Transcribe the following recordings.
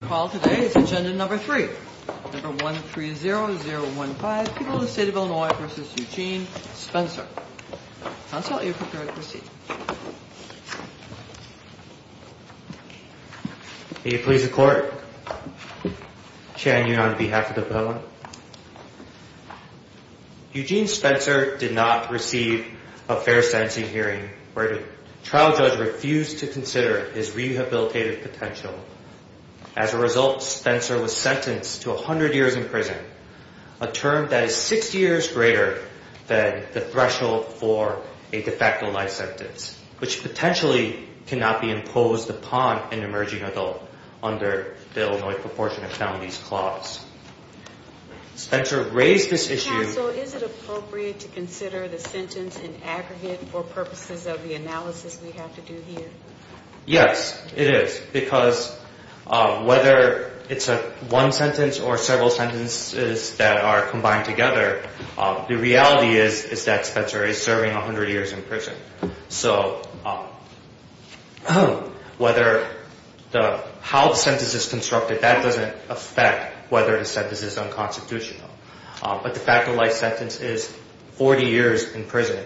The call today is agenda number three, number 130015, People of the State of Illinois v. Eugene Spencer. Counsel, are you prepared to proceed? May it please the Court, chairing you on behalf of the public. Eugene Spencer did not receive a fair sentencing hearing. The trial judge refused to consider his rehabilitative potential. As a result, Spencer was sentenced to 100 years in prison, a term that is 60 years greater than the threshold for a de facto life sentence, which potentially cannot be imposed upon an emerging adult under the Illinois Proportionate Families Clause. Counsel, is it appropriate to consider the sentence in aggregate for purposes of the analysis we have to do here? Yes, it is, because whether it's one sentence or several sentences that are combined together, the reality is that Spencer is serving 100 years in prison. So how the sentence is constructed, that doesn't affect whether the sentence is unconstitutional. But the de facto life sentence is 40 years in prison.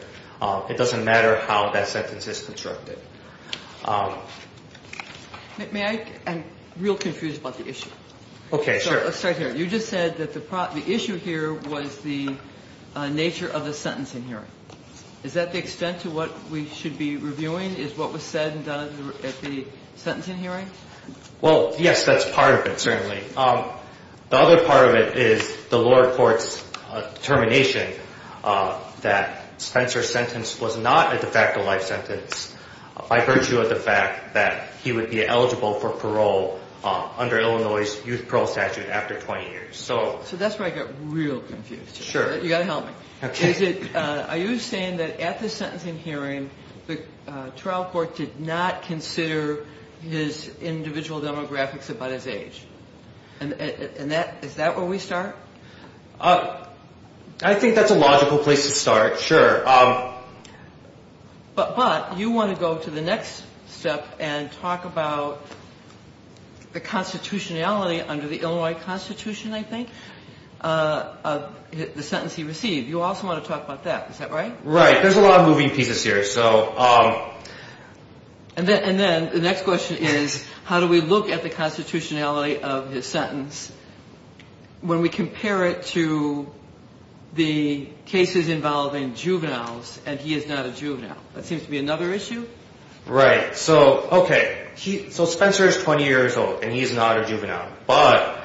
It doesn't matter how that sentence is constructed. May I? I'm real confused about the issue. Okay, sure. Let's start here. You just said that the issue here was the nature of the sentencing hearing. Is that the extent to what we should be reviewing, is what was said and done at the sentencing hearing? Well, yes, that's part of it, certainly. The other part of it is the lower court's determination that Spencer's sentence was not a de facto life sentence by virtue of the fact that he would be eligible for parole under Illinois' youth parole statute after 20 years. So that's where I get real confused. Sure. You've got to help me. Okay. Are you saying that at the sentencing hearing, the trial court did not consider his individual demographics about his age? And is that where we start? I think that's a logical place to start, sure. But you want to go to the next step and talk about the constitutionality under the Illinois Constitution, I think, of the sentence he received. You also want to talk about that. Is that right? Right. There's a lot of moving pieces here. And then the next question is how do we look at the constitutionality of his sentence when we compare it to the cases involving juveniles and he is not a juvenile? That seems to be another issue. Right. So Spencer is 20 years old and he is not a juvenile. But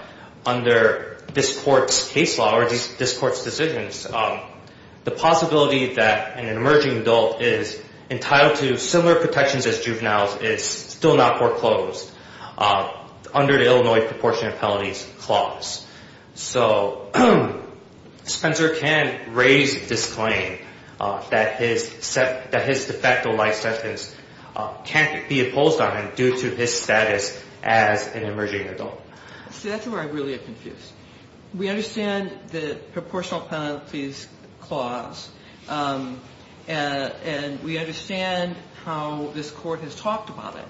under this court's case law or this court's decisions, the possibility that an emerging adult is entitled to similar protections as juveniles is still not foreclosed under the Illinois Proportionate Penalties Clause. So Spencer can raise this claim that his de facto life sentence can't be imposed on him due to his status as an emerging adult. See, that's where I really am confused. We understand the Proportional Penalties Clause and we understand how this court has talked about it.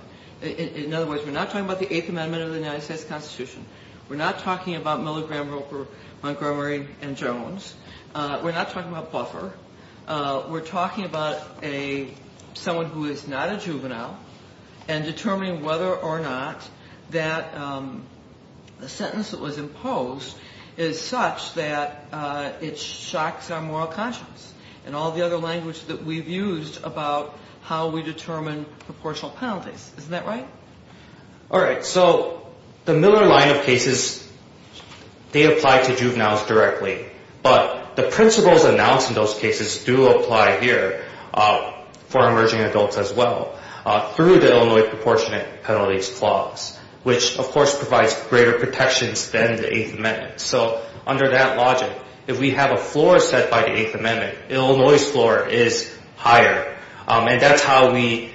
In other words, we're not talking about the Eighth Amendment of the United States Constitution. We're not talking about Miller, Graham, Roper, Montgomery, and Jones. We're not talking about Buffer. We're talking about someone who is not a juvenile and determining whether or not that the sentence that was imposed is such that it shocks our moral conscience and all the other language that we've used about how we determine proportional penalties. Isn't that right? All right. So the Miller line of cases, they apply to juveniles directly, but the principles announced in those cases do apply here for emerging adults as well through the Illinois Proportionate Penalties Clause, which of course provides greater protections than the Eighth Amendment. So under that logic, if we have a floor set by the Eighth Amendment, Illinois' floor is higher. And that's how we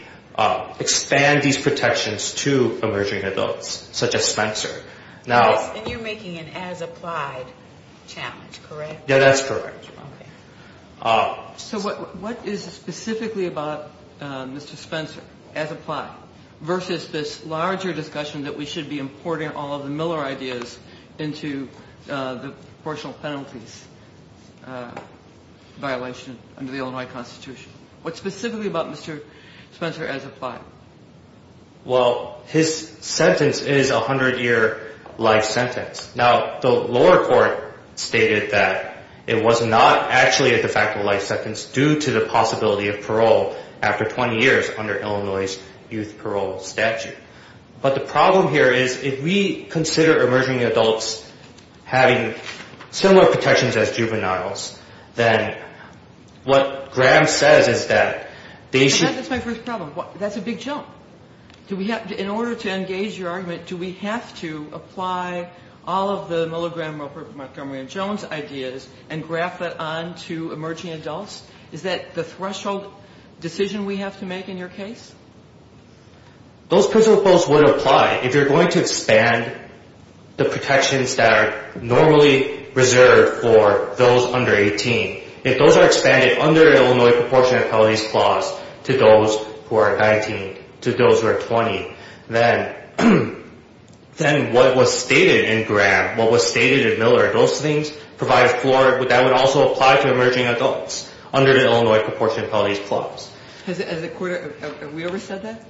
expand these protections to emerging adults, such as Spencer. And you're making an as-applied challenge, correct? Yeah, that's correct. Okay. So what is specifically about Mr. Spencer, as-applied, versus this larger discussion that we should be importing all of the Miller ideas into the proportional penalties violation under the Illinois Constitution? What's specifically about Mr. Spencer as-applied? Well, his sentence is a 100-year life sentence. Now, the lower court stated that it was not actually a de facto life sentence due to the possibility of parole after 20 years under Illinois' youth parole statute. But the problem here is if we consider emerging adults having similar protections as juveniles, then what Graham says is that they should be... That's my first problem. That's a big jump. In order to engage your argument, do we have to apply all of the Miller, Graham, Montgomery, and Jones ideas and graft that onto emerging adults? Is that the threshold decision we have to make in your case? Those principles would apply if you're going to expand the protections that are normally reserved for those under 18. If those are expanded under an Illinois proportional penalties clause to those who are 19, to those who are 20, then what was stated in Graham, what was stated in Miller, those things provide floor that would also apply to emerging adults under the Illinois proportional penalties clause. Has the court ever said that?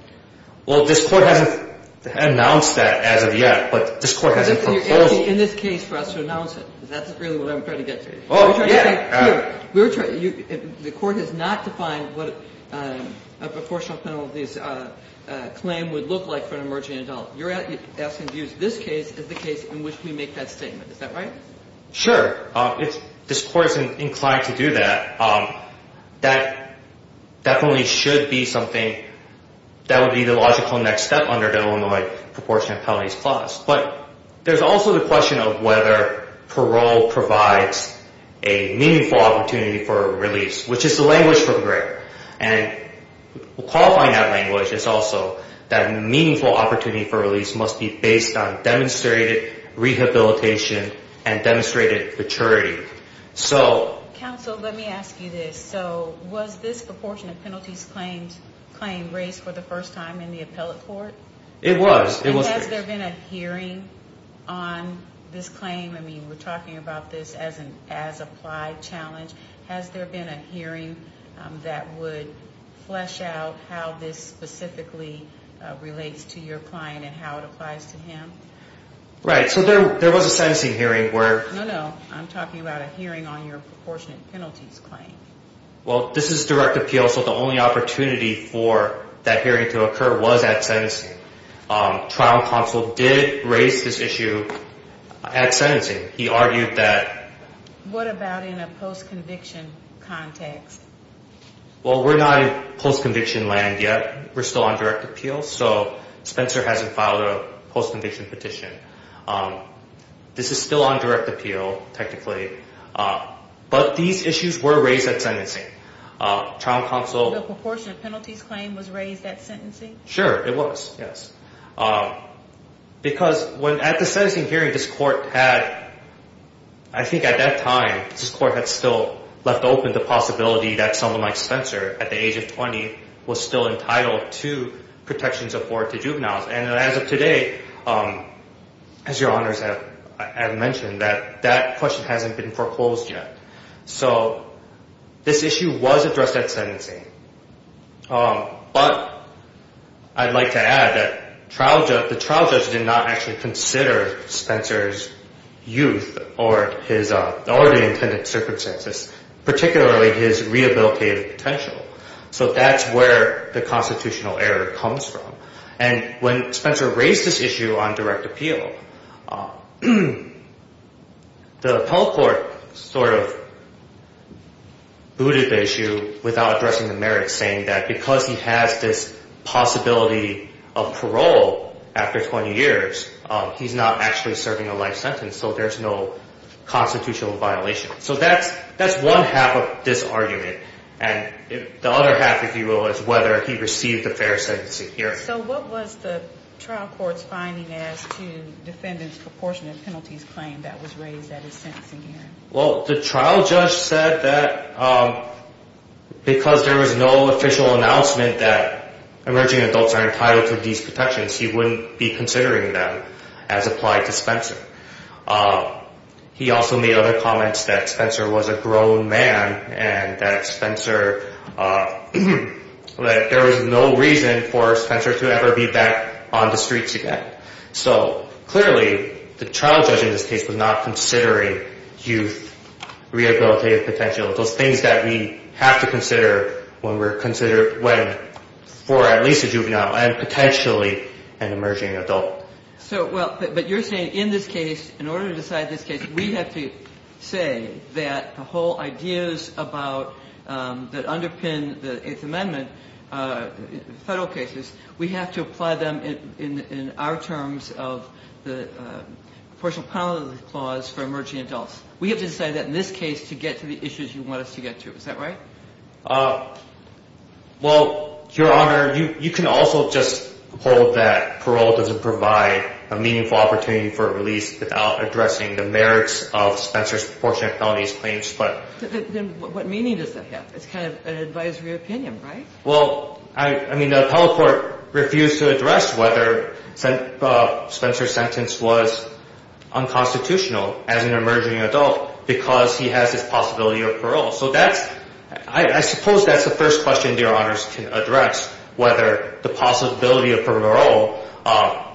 Well, this court hasn't announced that as of yet, but this court has a proposal. You're asking in this case for us to announce it. That's really what I'm trying to get to. Oh, yeah. The court has not defined what a proportional penalties claim would look like for an emerging adult. You're asking to use this case as the case in which we make that statement. Is that right? Sure. This court is inclined to do that. That definitely should be something that would be the logical next step under the Illinois proportional penalties clause. But there's also the question of whether parole provides a meaningful opportunity for release, which is the language from Graham. And qualifying that language is also that a meaningful opportunity for release must be based on demonstrated rehabilitation and demonstrated maturity. Counsel, let me ask you this. So was this proportional penalties claim raised for the first time in the appellate court? It was. And has there been a hearing on this claim? I mean, we're talking about this as an as-applied challenge. Has there been a hearing that would flesh out how this specifically relates to your client and how it applies to him? Right. So there was a sentencing hearing where – No, no. I'm talking about a hearing on your proportionate penalties claim. Well, this is direct appeal, so the only opportunity for that hearing to occur was at sentencing. Trial counsel did raise this issue at sentencing. He argued that – What about in a post-conviction context? Well, we're not in post-conviction land yet. We're still on direct appeal. So Spencer hasn't filed a post-conviction petition. This is still on direct appeal, technically. But these issues were raised at sentencing. Trial counsel – The proportionate penalties claim was raised at sentencing? Sure, it was, yes. Because at the sentencing hearing, this court had – I think at that time, this court had still left open the possibility that someone like Spencer, at the age of 20, was still entitled to protections afforded to juveniles. And as of today, as your honors have mentioned, that question hasn't been foreclosed yet. So this issue was addressed at sentencing. But I'd like to add that the trial judge did not actually consider Spencer's youth or his – or the intended circumstances, particularly his rehabilitative potential. So that's where the constitutional error comes from. And when Spencer raised this issue on direct appeal, the appellate court sort of booted the issue without addressing the merits, saying that because he has this possibility of parole after 20 years, he's not actually serving a life sentence, so there's no constitutional violation. So that's one half of this argument. And the other half, if you will, is whether he received a fair sentencing hearing. So what was the trial court's finding as to defendant's proportionate penalties claim that was raised at his sentencing hearing? Well, the trial judge said that because there was no official announcement that emerging adults are entitled to these protections, he wouldn't be considering them as applied to Spencer. He also made other comments that Spencer was a grown man and that Spencer – that there was no reason for Spencer to ever be back on the streets again. So clearly, the trial judge in this case was not considering youth rehabilitative potential, those things that we have to consider when we're considering – when for at least a juvenile and potentially an emerging adult. So – well, but you're saying in this case, in order to decide this case, we have to say that the whole ideas about – that underpin the Eighth Amendment federal cases, we have to apply them in our terms of the proportional penalty clause for emerging adults. We have to decide that in this case to get to the issues you want us to get to. Is that right? Well, Your Honor, you can also just hold that parole doesn't provide a meaningful opportunity for release without addressing the merits of Spencer's proportional penalties claims, but – Then what meaning does that have? It's kind of an advisory opinion, right? Well, I mean, the appellate court refused to address whether Spencer's sentence was unconstitutional as an emerging adult because he has this possibility of parole. So that's – I suppose that's the first question, Your Honors, to address, whether the possibility of parole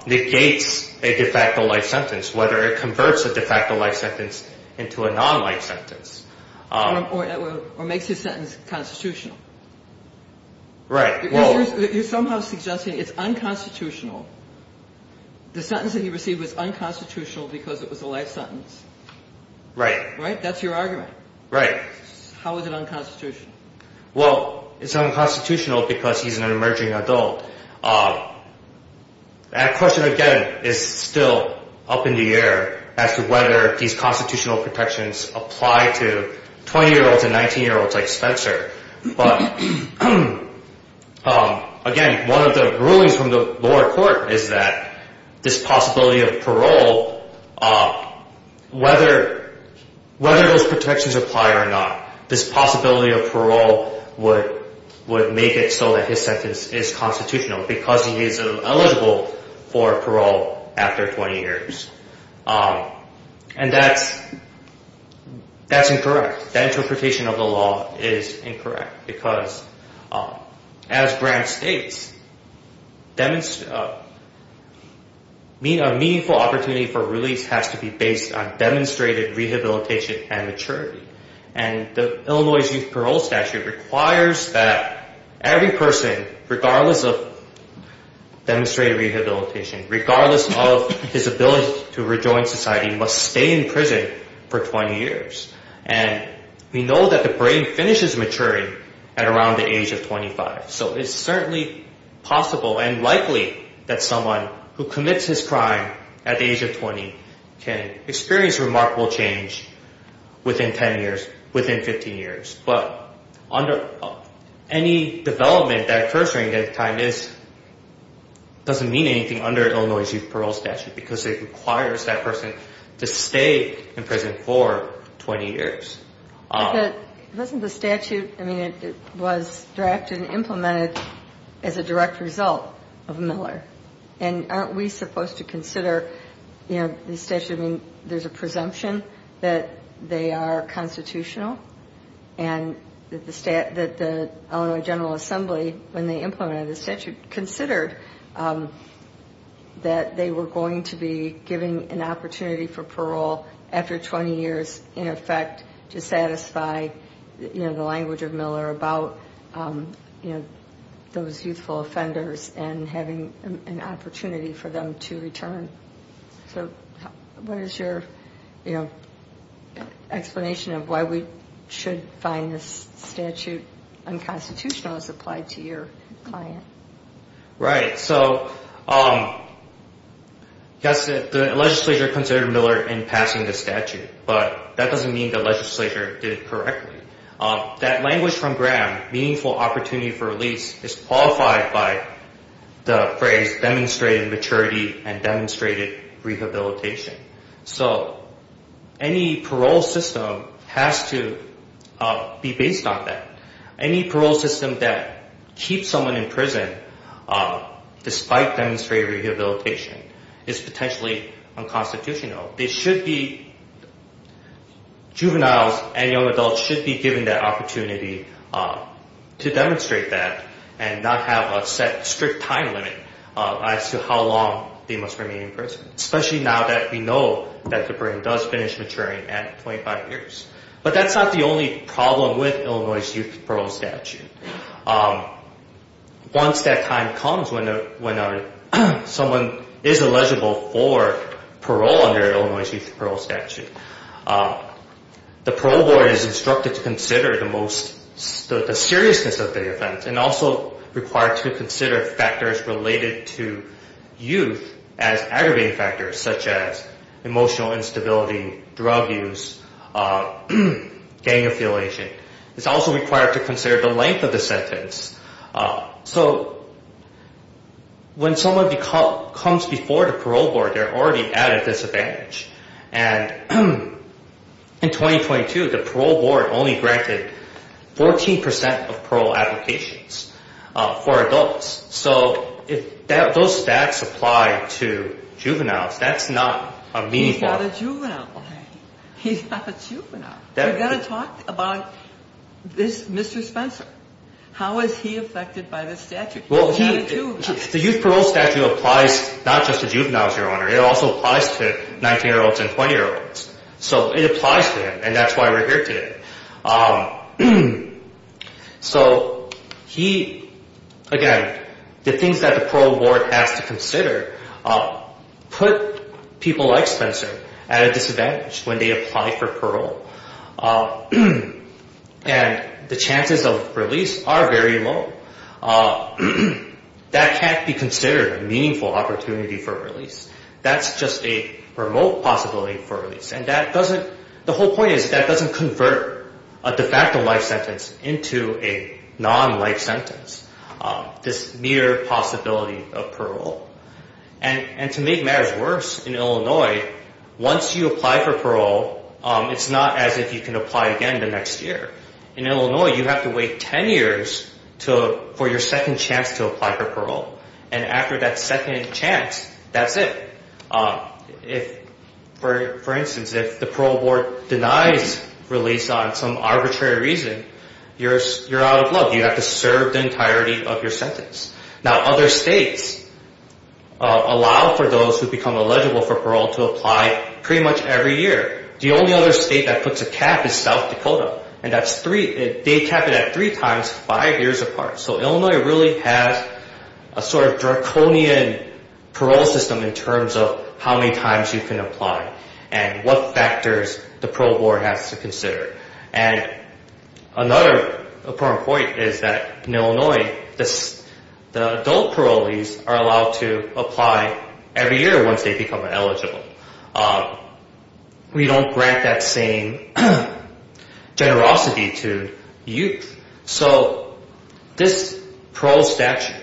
negates a de facto life sentence, whether it converts a de facto life sentence into a non-life sentence. Or makes his sentence constitutional. Right. Well – You're somehow suggesting it's unconstitutional. The sentence that he received was unconstitutional because it was a life sentence. Right. Right? That's your argument. Right. How is it unconstitutional? Well, it's unconstitutional because he's an emerging adult. That question, again, is still up in the air as to whether these constitutional protections apply to 20-year-olds and 19-year-olds like Spencer. But, again, one of the rulings from the lower court is that this possibility of parole, whether those protections apply or not, this possibility of parole would make it so that his sentence is constitutional because he is eligible for parole after 20 years. And that's incorrect. That interpretation of the law is incorrect because, as Grant states, a meaningful opportunity for release has to be based on demonstrated rehabilitation and maturity. And Illinois' youth parole statute requires that every person, regardless of demonstrated rehabilitation, regardless of his ability to rejoin society, must stay in prison for 20 years. And we know that the brain finishes maturing at around the age of 25. So it's certainly possible and likely that someone who commits his crime at the age of 20 can experience remarkable change within 10 years, within 15 years. But any development that occurs during that time doesn't mean anything under Illinois' youth parole statute because it requires that person to stay in prison for 20 years. It wasn't the statute. I mean, it was drafted and implemented as a direct result of Miller. And aren't we supposed to consider the statute? I mean, there's a presumption that they are constitutional and that the Illinois General Assembly, when they implemented the statute, considered that they were going to be given an opportunity for parole after 20 years, in effect to satisfy the language of Miller about those youthful offenders and having an opportunity for them to return. So what is your explanation of why we should find this statute unconstitutional as applied to your client? Right. So the legislature considered Miller in passing the statute, but that doesn't mean the legislature did it correctly. That language from Graham, meaningful opportunity for release, is qualified by the phrase demonstrated maturity and demonstrated rehabilitation. So any parole system has to be based on that. Any parole system that keeps someone in prison despite demonstrated rehabilitation is potentially unconstitutional. They should be, juveniles and young adults should be given the opportunity to demonstrate that and not have a set strict time limit as to how long they must remain in prison, especially now that we know that the brain does finish maturing at 25 years. But that's not the only problem with Illinois' Youth Parole Statute. Once that time comes when someone is eligible for parole under Illinois' Youth Parole Statute, the parole board is instructed to consider the seriousness of the offense and also required to consider factors related to youth as aggravating factors, such as emotional instability, drug use, gang affiliation. It's also required to consider the length of the sentence. So when someone comes before the parole board, they're already at a disadvantage. And in 2022, the parole board only granted 14% of parole applications for adults. So if those stats apply to juveniles, that's not a meaningful thing. He's not a juvenile. He's not a juvenile. We've got to talk about this Mr. Spencer. How is he affected by this statute? The Youth Parole Statute applies not just to juveniles, Your Honor. It also applies to 19-year-olds and 20-year-olds. So it applies to him, and that's why we're here today. So he, again, the things that the parole board has to consider put people like Spencer at a disadvantage when they apply for parole. And the chances of release are very low. That can't be considered a meaningful opportunity for release. That's just a remote possibility for release. The whole point is that doesn't convert a de facto life sentence into a non-life sentence, this mere possibility of parole. And to make matters worse, in Illinois, once you apply for parole, it's not as if you can apply again the next year. In Illinois, you have to wait 10 years for your second chance to apply for parole. And after that second chance, that's it. For instance, if the parole board denies release on some arbitrary reason, you're out of luck. You have to serve the entirety of your sentence. Now, other states allow for those who become eligible for parole to apply pretty much every year. The only other state that puts a cap is South Dakota, and they cap it at three times five years apart. So Illinois really has a sort of draconian parole system in terms of how many times you can apply and what factors the parole board has to consider. And another important point is that in Illinois, the adult parolees are allowed to apply every year once they become eligible. We don't grant that same generosity to youth. So this parole statute,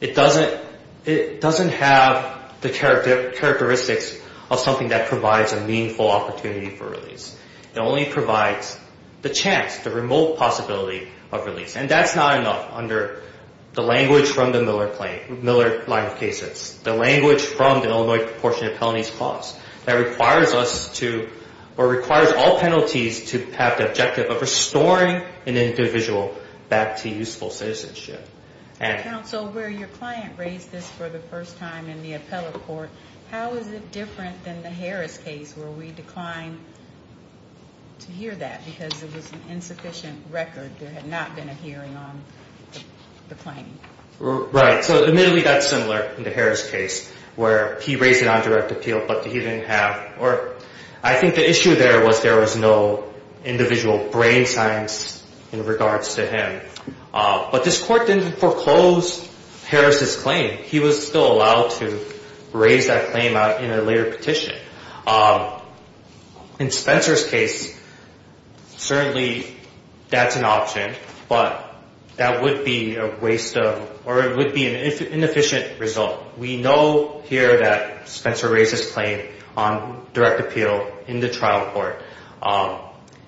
it doesn't have the characteristics of something that provides a meaningful opportunity for release. It only provides the chance, the remote possibility of release. And that's not enough under the language from the Miller line of cases, the language from the Illinois Proportionate Penalties Clause that requires all penalties to have the objective of restoring an individual back to useful citizenship. Counsel, where your client raised this for the first time in the appellate court, how is it different than the Harris case where we declined to hear that because it was an insufficient record? There had not been a hearing on the claim. Right. So admittedly, that's similar in the Harris case where he raised it on direct appeal, but he didn't have, or I think the issue there was there was no individual brain science in regards to him. But this court didn't foreclose Harris's claim. He was still allowed to raise that claim in a later petition. In Spencer's case, certainly that's an option, but that would be a waste of, or it would be an inefficient result. We know here that Spencer raised his claim on direct appeal in the trial court.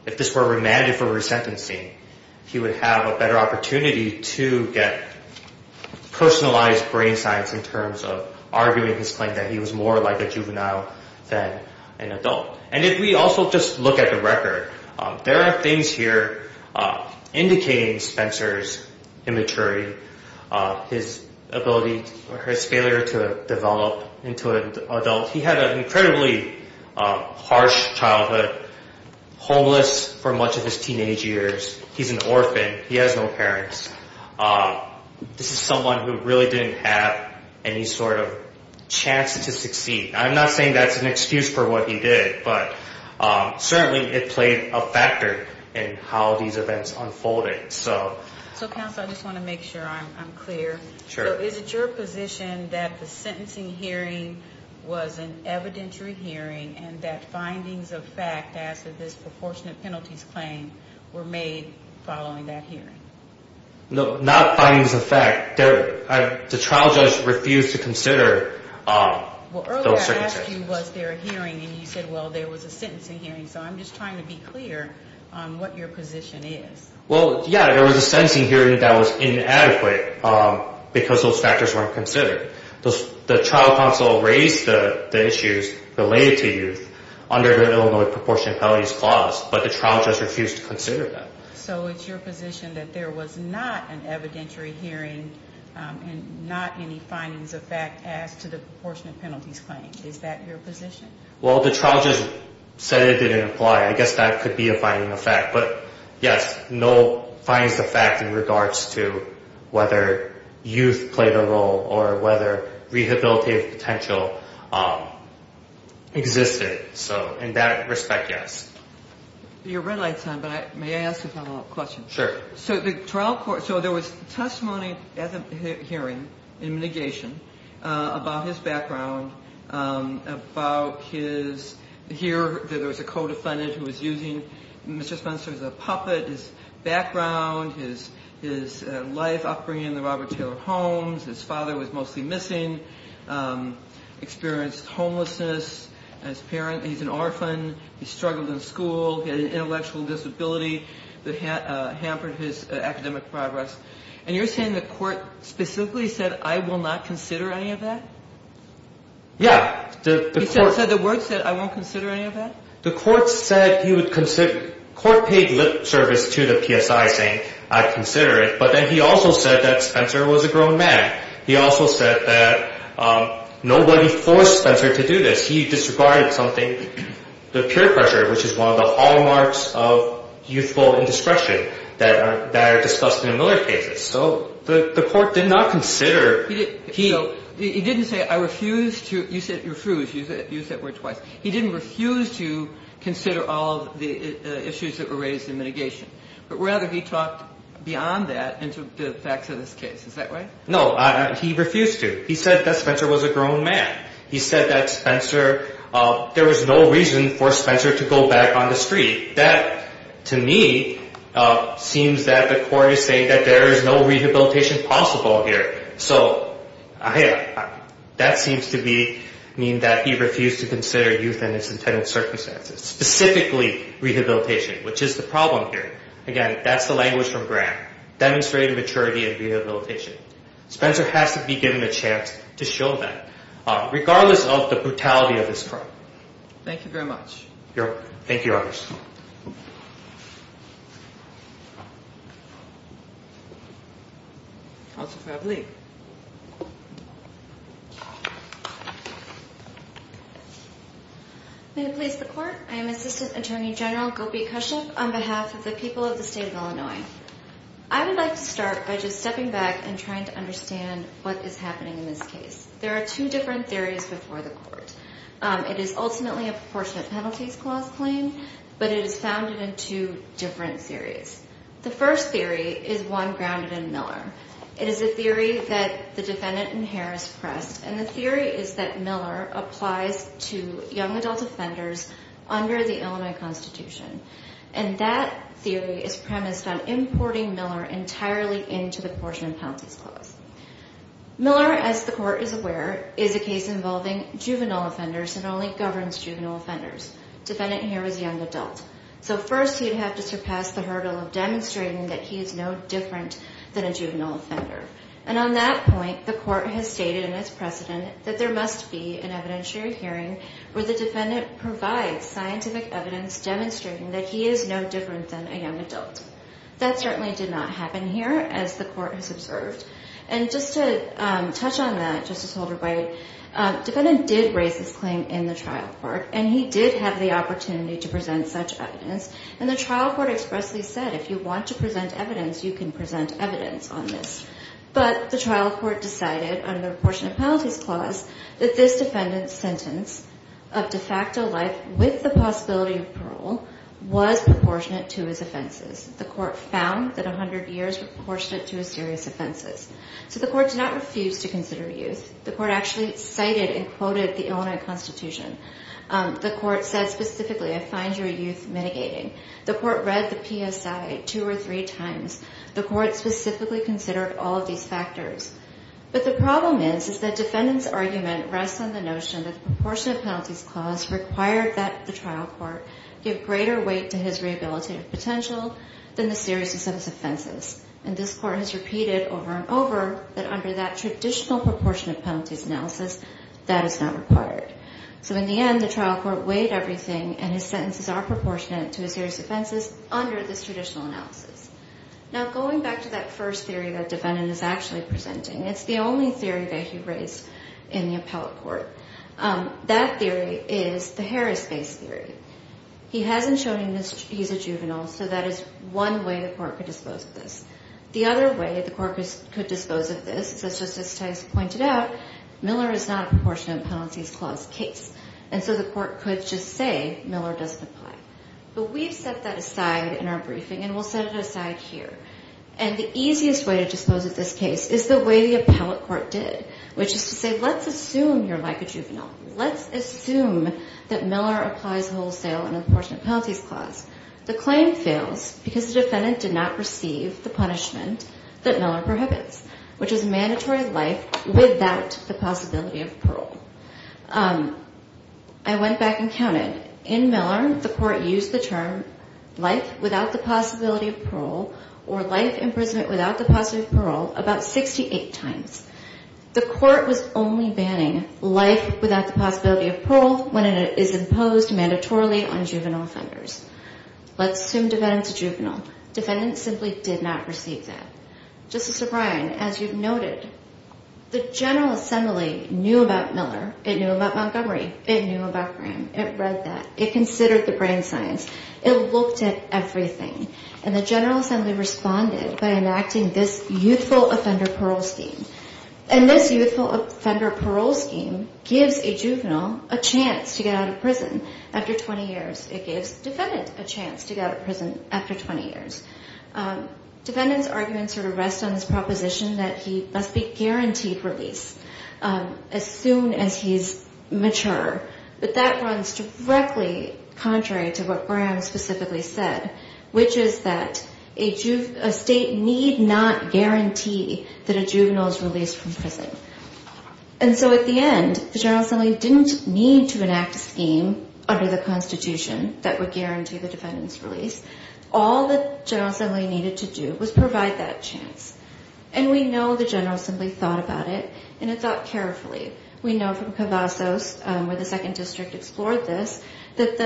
If this were remanded for resentencing, he would have a better opportunity to get personalized brain science in terms of arguing his claim that he was more like a juvenile than an adult. And if we also just look at the record, there are things here indicating Spencer's immaturity, his ability or his failure to develop into an adult. He had an incredibly harsh childhood, homeless for much of his teenage years. He's an orphan. He has no parents. This is someone who really didn't have any sort of chance to succeed. I'm not saying that's an excuse for what he did, but certainly it played a factor in how these events unfolded. So counsel, I just want to make sure I'm clear. So is it your position that the sentencing hearing was an evidentiary hearing and that findings of fact as to this proportionate penalties claim were made following that hearing? No, not findings of fact. The trial judge refused to consider those circumstances. Well, earlier I asked you was there a hearing, and you said, well, there was a sentencing hearing. So I'm just trying to be clear on what your position is. Well, yeah, there was a sentencing hearing that was inadequate because those factors weren't considered. The trial counsel raised the issues related to youth under the Illinois proportionate penalties clause, but the trial judge refused to consider that. So it's your position that there was not an evidentiary hearing and not any findings of fact as to the proportionate penalties claim. Is that your position? Well, the trial judge said it didn't apply. I guess that could be a finding of fact. But, yes, no findings of fact in regards to whether youth played a role or whether rehabilitative potential existed. So in that respect, yes. Your red light's on, but may I ask a follow-up question? Sure. So there was testimony at the hearing in mitigation about his background, about his here there was a co-defendant who was using Mr. Spencer as a puppet, his background, his life, upbringing in the Robert Taylor homes. His father was mostly missing, experienced homelessness. He's an orphan. He struggled in school. He had an intellectual disability that hampered his academic progress. And you're saying the court specifically said, I will not consider any of that? He said the word said, I won't consider any of that? The court said he would consider the court paid lip service to the PSI saying, I'd consider it. But then he also said that Spencer was a grown man. He also said that nobody forced Spencer to do this. He disregarded something, the peer pressure, which is one of the hallmarks of youthful indiscretion that are discussed in the Miller cases. So the court did not consider. He didn't say, I refuse to. You said refuse. Use that word twice. He didn't refuse to consider all the issues that were raised in mitigation. But rather, he talked beyond that into the facts of this case. Is that right? No. He refused to. He said that Spencer was a grown man. He said that Spencer, there was no reason for Spencer to go back on the street. That, to me, seems that the court is saying that there is no rehabilitation possible here. So that seems to mean that he refused to consider youth in his intended circumstances, specifically rehabilitation, which is the problem here. Again, that's the language from Graham. Demonstrate maturity and rehabilitation. Spencer has to be given a chance to show that, regardless of the brutality of this crime. Thank you very much. You're welcome. Thank you, Your Honors. Counselor Fabley. May it please the Court. I am Assistant Attorney General Gopi Kashyap on behalf of the people of the state of Illinois. I would like to start by just stepping back and trying to understand what is happening in this case. There are two different theories before the Court. It is ultimately a proportionate penalties clause claim, but it is founded in two different theories. The first theory is one grounded in Miller. It is a theory that the defendant inheres pressed, and the theory is that Miller applies to young adult offenders under the Illinois Constitution. And that theory is premised on importing Miller entirely into the proportionate penalties clause. Miller, as the Court is aware, is a case involving juvenile offenders and only governs juvenile offenders. Defendant here was a young adult. So first he would have to surpass the hurdle of demonstrating that he is no different than a juvenile offender. And on that point, the Court has stated in its precedent that there must be an evidentiary hearing where the defendant provides scientific evidence demonstrating that he is no different than a young adult. That certainly did not happen here, as the Court has observed. And just to touch on that, Justice Holder-White, defendant did raise this claim in the trial court, and he did have the opportunity to present such evidence. And the trial court expressly said, if you want to present evidence, you can present evidence on this. But the trial court decided under the proportionate penalties clause that this defendant's sentence of de facto life with the possibility of parole was proportionate to his offenses. The Court found that 100 years was proportionate to his serious offenses. So the Court did not refuse to consider youth. The Court actually cited and quoted the Illinois Constitution. The Court said specifically, I find your youth mitigating. The Court read the PSI two or three times. The Court specifically considered all of these factors. But the problem is, is that defendant's argument rests on the notion that the proportionate penalties clause required that the trial court give greater weight to his rehabilitative potential than the seriousness of his offenses. And this Court has repeated over and over that under that traditional proportionate penalties analysis, that is not required. So in the end, the trial court weighed everything, and his sentences are proportionate to his serious offenses under this traditional analysis. Now, going back to that first theory that defendant is actually presenting, it's the only theory that he raised in the appellate court. That theory is the Harris-based theory. He hasn't shown he's a juvenile, so that is one way the Court could dispose of this. The other way the Court could dispose of this is, as Justice Tice pointed out, Miller is not a proportionate penalties clause case. And so the Court could just say Miller doesn't apply. But we've set that aside in our briefing, and we'll set it aside here. And the easiest way to dispose of this case is the way the appellate court did, which is to say let's assume you're like a juvenile. Let's assume that Miller applies wholesale and proportionate penalties clause. The claim fails because the defendant did not receive the punishment that Miller prohibits, which is mandatory life without the possibility of parole. I went back and counted. In Miller, the Court used the term life without the possibility of parole or life imprisonment without the possibility of parole about 68 times. The Court was only banning life without the possibility of parole when it is imposed mandatorily on juvenile offenders. Let's assume defendant's a juvenile. Defendant simply did not receive that. Justice O'Brien, as you've noted, the General Assembly knew about Miller. It knew about Montgomery. It knew about Graham. It read that. It considered the brain science. It looked at everything. And the General Assembly responded by enacting this youthful offender parole scheme. And this youthful offender parole scheme gives a juvenile a chance to get out of prison after 20 years. It gives defendant a chance to get out of prison after 20 years. Defendant's arguments sort of rest on his proposition that he must be guaranteed release as soon as he's mature. But that runs directly contrary to what Graham specifically said, which is that a state need not guarantee that a juvenile is released from prison. And so at the end, the General Assembly didn't need to enact a scheme under the Constitution that would guarantee the defendant's release. All the General Assembly needed to do was provide that chance. And we know the General Assembly thought about it, and it thought carefully. We know from Cavazos, where the Second District explored this, that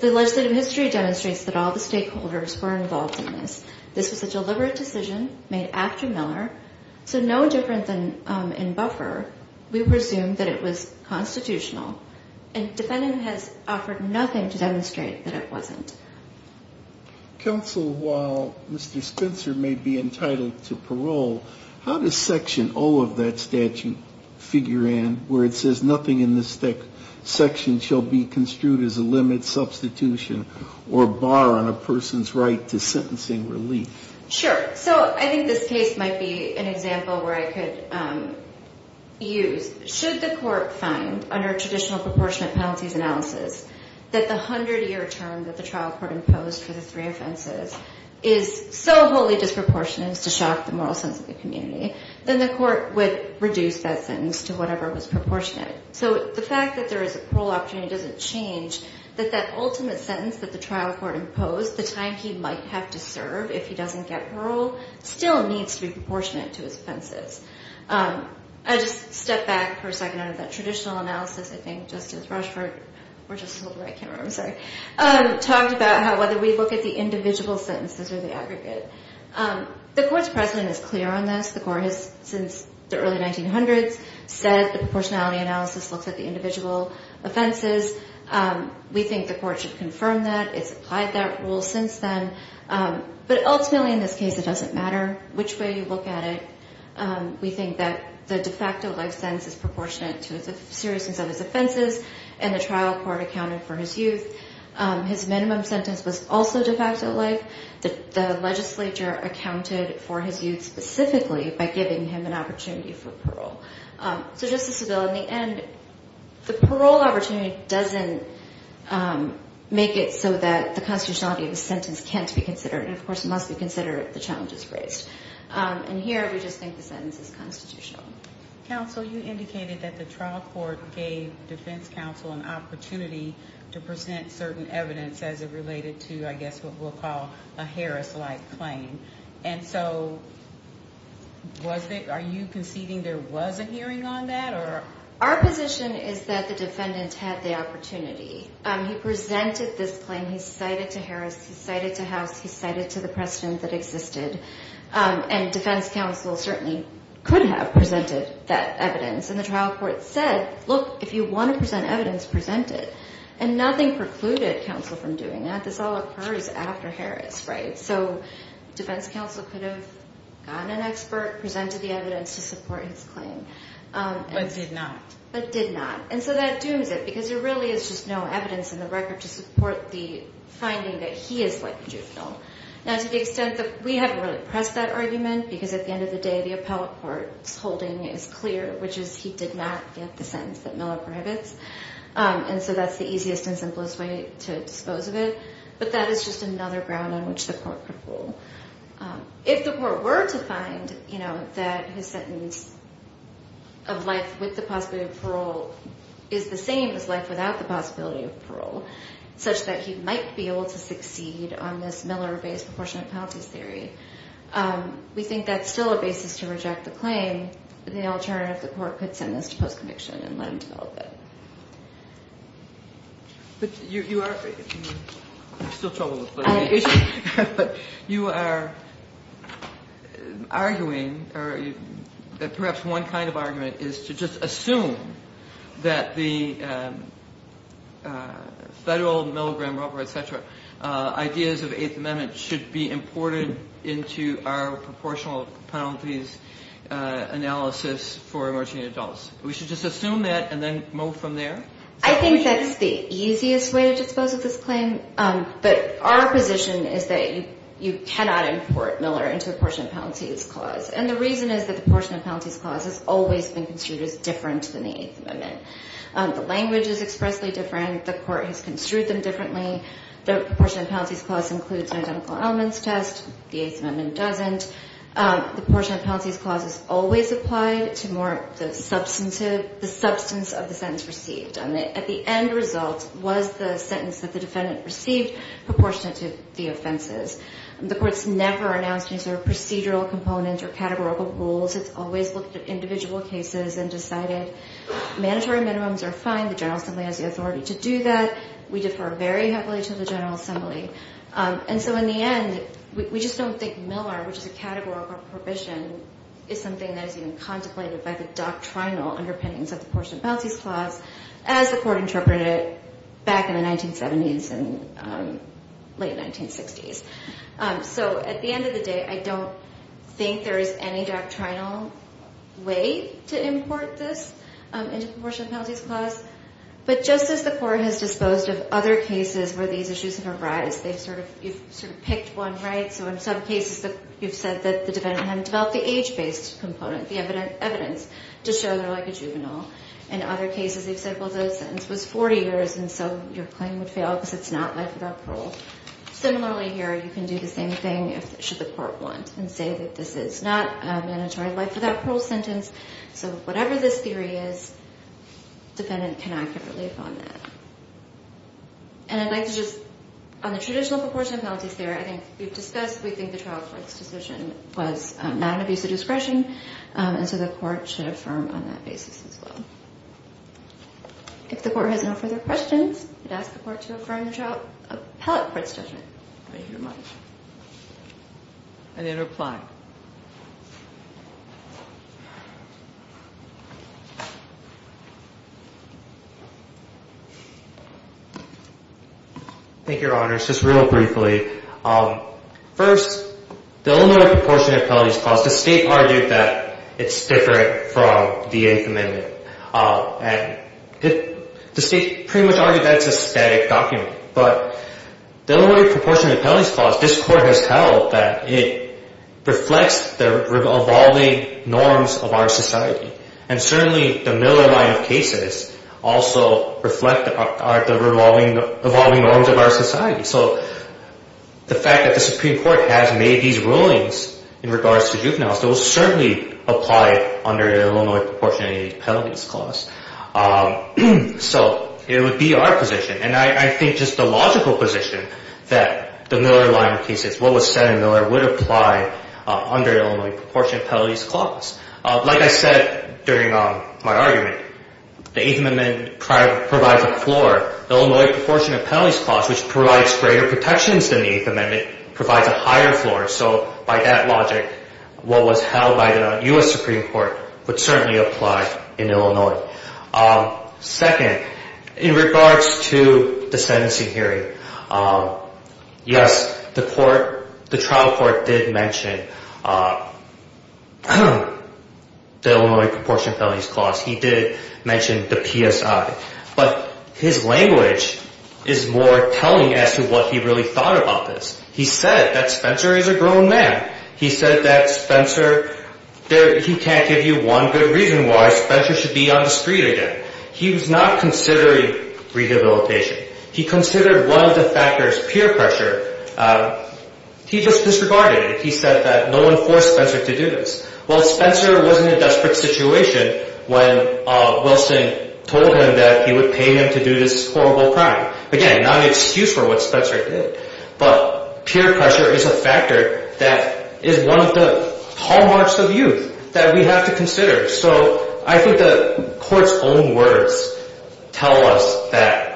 the legislative history demonstrates that all the stakeholders were involved in this. This was a deliberate decision made after Miller. So no different than in Buffer, we presume that it was constitutional. And defendant has offered nothing to demonstrate that it wasn't. Counsel, while Mr. Spencer may be entitled to parole, how does Section O of that statute figure in, where it says nothing in this section shall be construed as a limit, substitution, or bar on a person's right to sentencing relief? Sure. So I think this case might be an example where I could use, should the court find, under traditional proportionate penalties analysis, that the hundred-year term that the trial court imposed for the three offenses is so wholly disproportionate as to shock the moral sense of the community, then the court would reduce that sentence to whatever was proportionate. So the fact that there is a parole opportunity doesn't change that that ultimate sentence that the trial court imposed, the time he might have to serve if he doesn't get parole, still needs to be proportionate to his offenses. I'll just step back for a second out of that traditional analysis. I think Justice Rushford talked about how, whether we look at the individual sentences or the aggregate. The court's precedent is clear on this. The court has, since the early 1900s, said the proportionality analysis looks at the individual offenses. We think the court should confirm that. It's applied that rule since then. But ultimately, in this case, it doesn't matter which way you look at it. We think that the de facto life sentence is proportionate to the seriousness of his offenses, and the trial court accounted for his youth. His minimum sentence was also de facto life. The legislature accounted for his youth specifically by giving him an opportunity for parole. So, Justice Seville, in the end, the parole opportunity doesn't make it so that the constitutionality of the sentence can't be considered. And, of course, it must be considered if the challenge is raised. And here, we just think the sentence is constitutional. Counsel, you indicated that the trial court gave defense counsel an opportunity to present certain evidence as it related to, I guess, what we'll call a Harris-like claim. And so, are you conceding there was a hearing on that? Our position is that the defendant had the opportunity. He presented this claim. He cited to Harris. He cited to House. He cited to the precedent that existed. And defense counsel certainly could have presented that evidence. And the trial court said, look, if you want to present evidence, present it. And nothing precluded counsel from doing that. This all occurs after Harris, right? So defense counsel could have gotten an expert, presented the evidence to support his claim. But did not. But did not. And so that dooms it because there really is just no evidence in the record to support the finding that he is like a juvenile. Now, to the extent that we haven't really pressed that argument, because at the end of the day, the appellate court's holding is clear, which is he did not get the sentence that Miller prohibits. And so that's the easiest and simplest way to dispose of it. But that is just another ground on which the court could rule. If the court were to find, you know, that his sentence of life with the possibility of parole is the same as life without the possibility of parole, such that he might be able to succeed on this Miller-based proportionate penalties theory, we think that's still a basis to reject the claim. The alternative, the court could send this to post-conviction and let him develop it. But you are still troubled. But you are arguing that perhaps one kind of argument is to just assume that the federal milligram rubber, et cetera, ideas of the Eighth Amendment should be imported into our proportional penalties analysis for emerging adults. We should just assume that and then move from there? I think that's the easiest way to dispose of this claim. But our position is that you cannot import Miller into the proportionate penalties clause. And the reason is that the proportionate penalties clause has always been considered as different than the Eighth Amendment. The language is expressly different. The court has construed them differently. The proportionate penalties clause includes an identical elements test. The Eighth Amendment doesn't. The proportionate penalties clause is always applied to the substance of the sentence received. At the end result, was the sentence that the defendant received proportionate to the offenses? The court's never announced procedural components or categorical rules. It's always looked at individual cases and decided mandatory minimums are fine. The General Assembly has the authority to do that. We defer very heavily to the General Assembly. And so in the end, we just don't think Miller, which is a categorical prohibition, is something that is even contemplated by the doctrinal underpinnings of the proportionate penalties clause as the court interpreted it back in the 1970s and late 1960s. So at the end of the day, I don't think there is any doctrinal way to import this into the But just as the court has disposed of other cases where these issues have arised, they've sort of, you've sort of picked one, right? So in some cases, you've said that the defendant had developed the age-based component, the evidence to show they're like a juvenile. In other cases, they've said, well, the sentence was 40 years and so your claim would fail because it's not life without parole. Similarly here, you can do the same thing should the court want and say that this is not a mandatory life without parole sentence. So whatever this theory is, defendant cannot get relief on that. And I'd like to just, on the traditional proportionate penalties theory, I think we've discussed, we think the trial court's decision was not an abuse of discretion. And so the court should affirm on that basis as well. If the court has no further questions, I'd ask the court to affirm the trial appellate court's judgment. Thank you very much. And then reply. Thank you, Your Honor. Just real briefly. First, the Illinois proportionate penalties clause, the state argued that it's different from the Eighth Amendment. And the state pretty much argued that it's a static document. But the Illinois proportionate penalties clause, this court has held that it reflects the evolving norms of our society. And certainly the Miller line of cases also reflect the evolving norms of our society. So the fact that the Supreme Court has made these rulings in regards to juveniles, those certainly apply under the Illinois proportionate penalties clause. So it would be our position, and I think just the logical position, that the Miller line of cases, what was said in Miller, would apply under the Illinois proportionate penalties clause. Like I said during my argument, the Eighth Amendment provides a floor. The Illinois proportionate penalties clause, which provides greater protections than the Eighth Amendment, provides a higher floor. So by that logic, what was held by the U.S. Supreme Court would certainly apply in Illinois. Second, in regards to the sentencing hearing, yes, the trial court did mention the Illinois proportionate penalties clause. He did mention the PSI. But his language is more telling as to what he really thought about this. He said that Spencer is a grown man. He said that Spencer, he can't give you one good reason why Spencer should be on the street again. He was not considering rehabilitation. He considered one of the factors, peer pressure. He just disregarded it. He said that no one forced Spencer to do this. Well, Spencer was in a desperate situation when Wilson told him that he would pay him to do this horrible crime. Again, not an excuse for what Spencer did. But peer pressure is a factor that is one of the hallmarks of youth that we have to consider. So I think the court's own words tell us that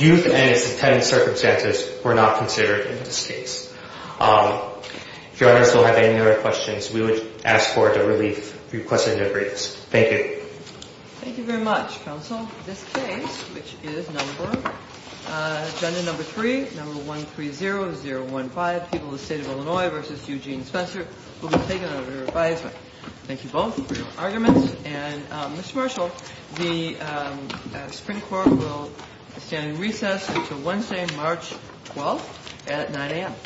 youth and its intended circumstances were not considered in this case. If your audience will have any other questions, we would ask for the relief requested in the briefs. Thank you. Thank you very much, counsel. This case, which is number, agenda number three, number 130-015, People of the State of Illinois v. Eugene Spencer, will be taken under advisement. Thank you both for your arguments. And Mr. Marshall, the Supreme Court will stand in recess until Wednesday, March 12th at 9 a.m.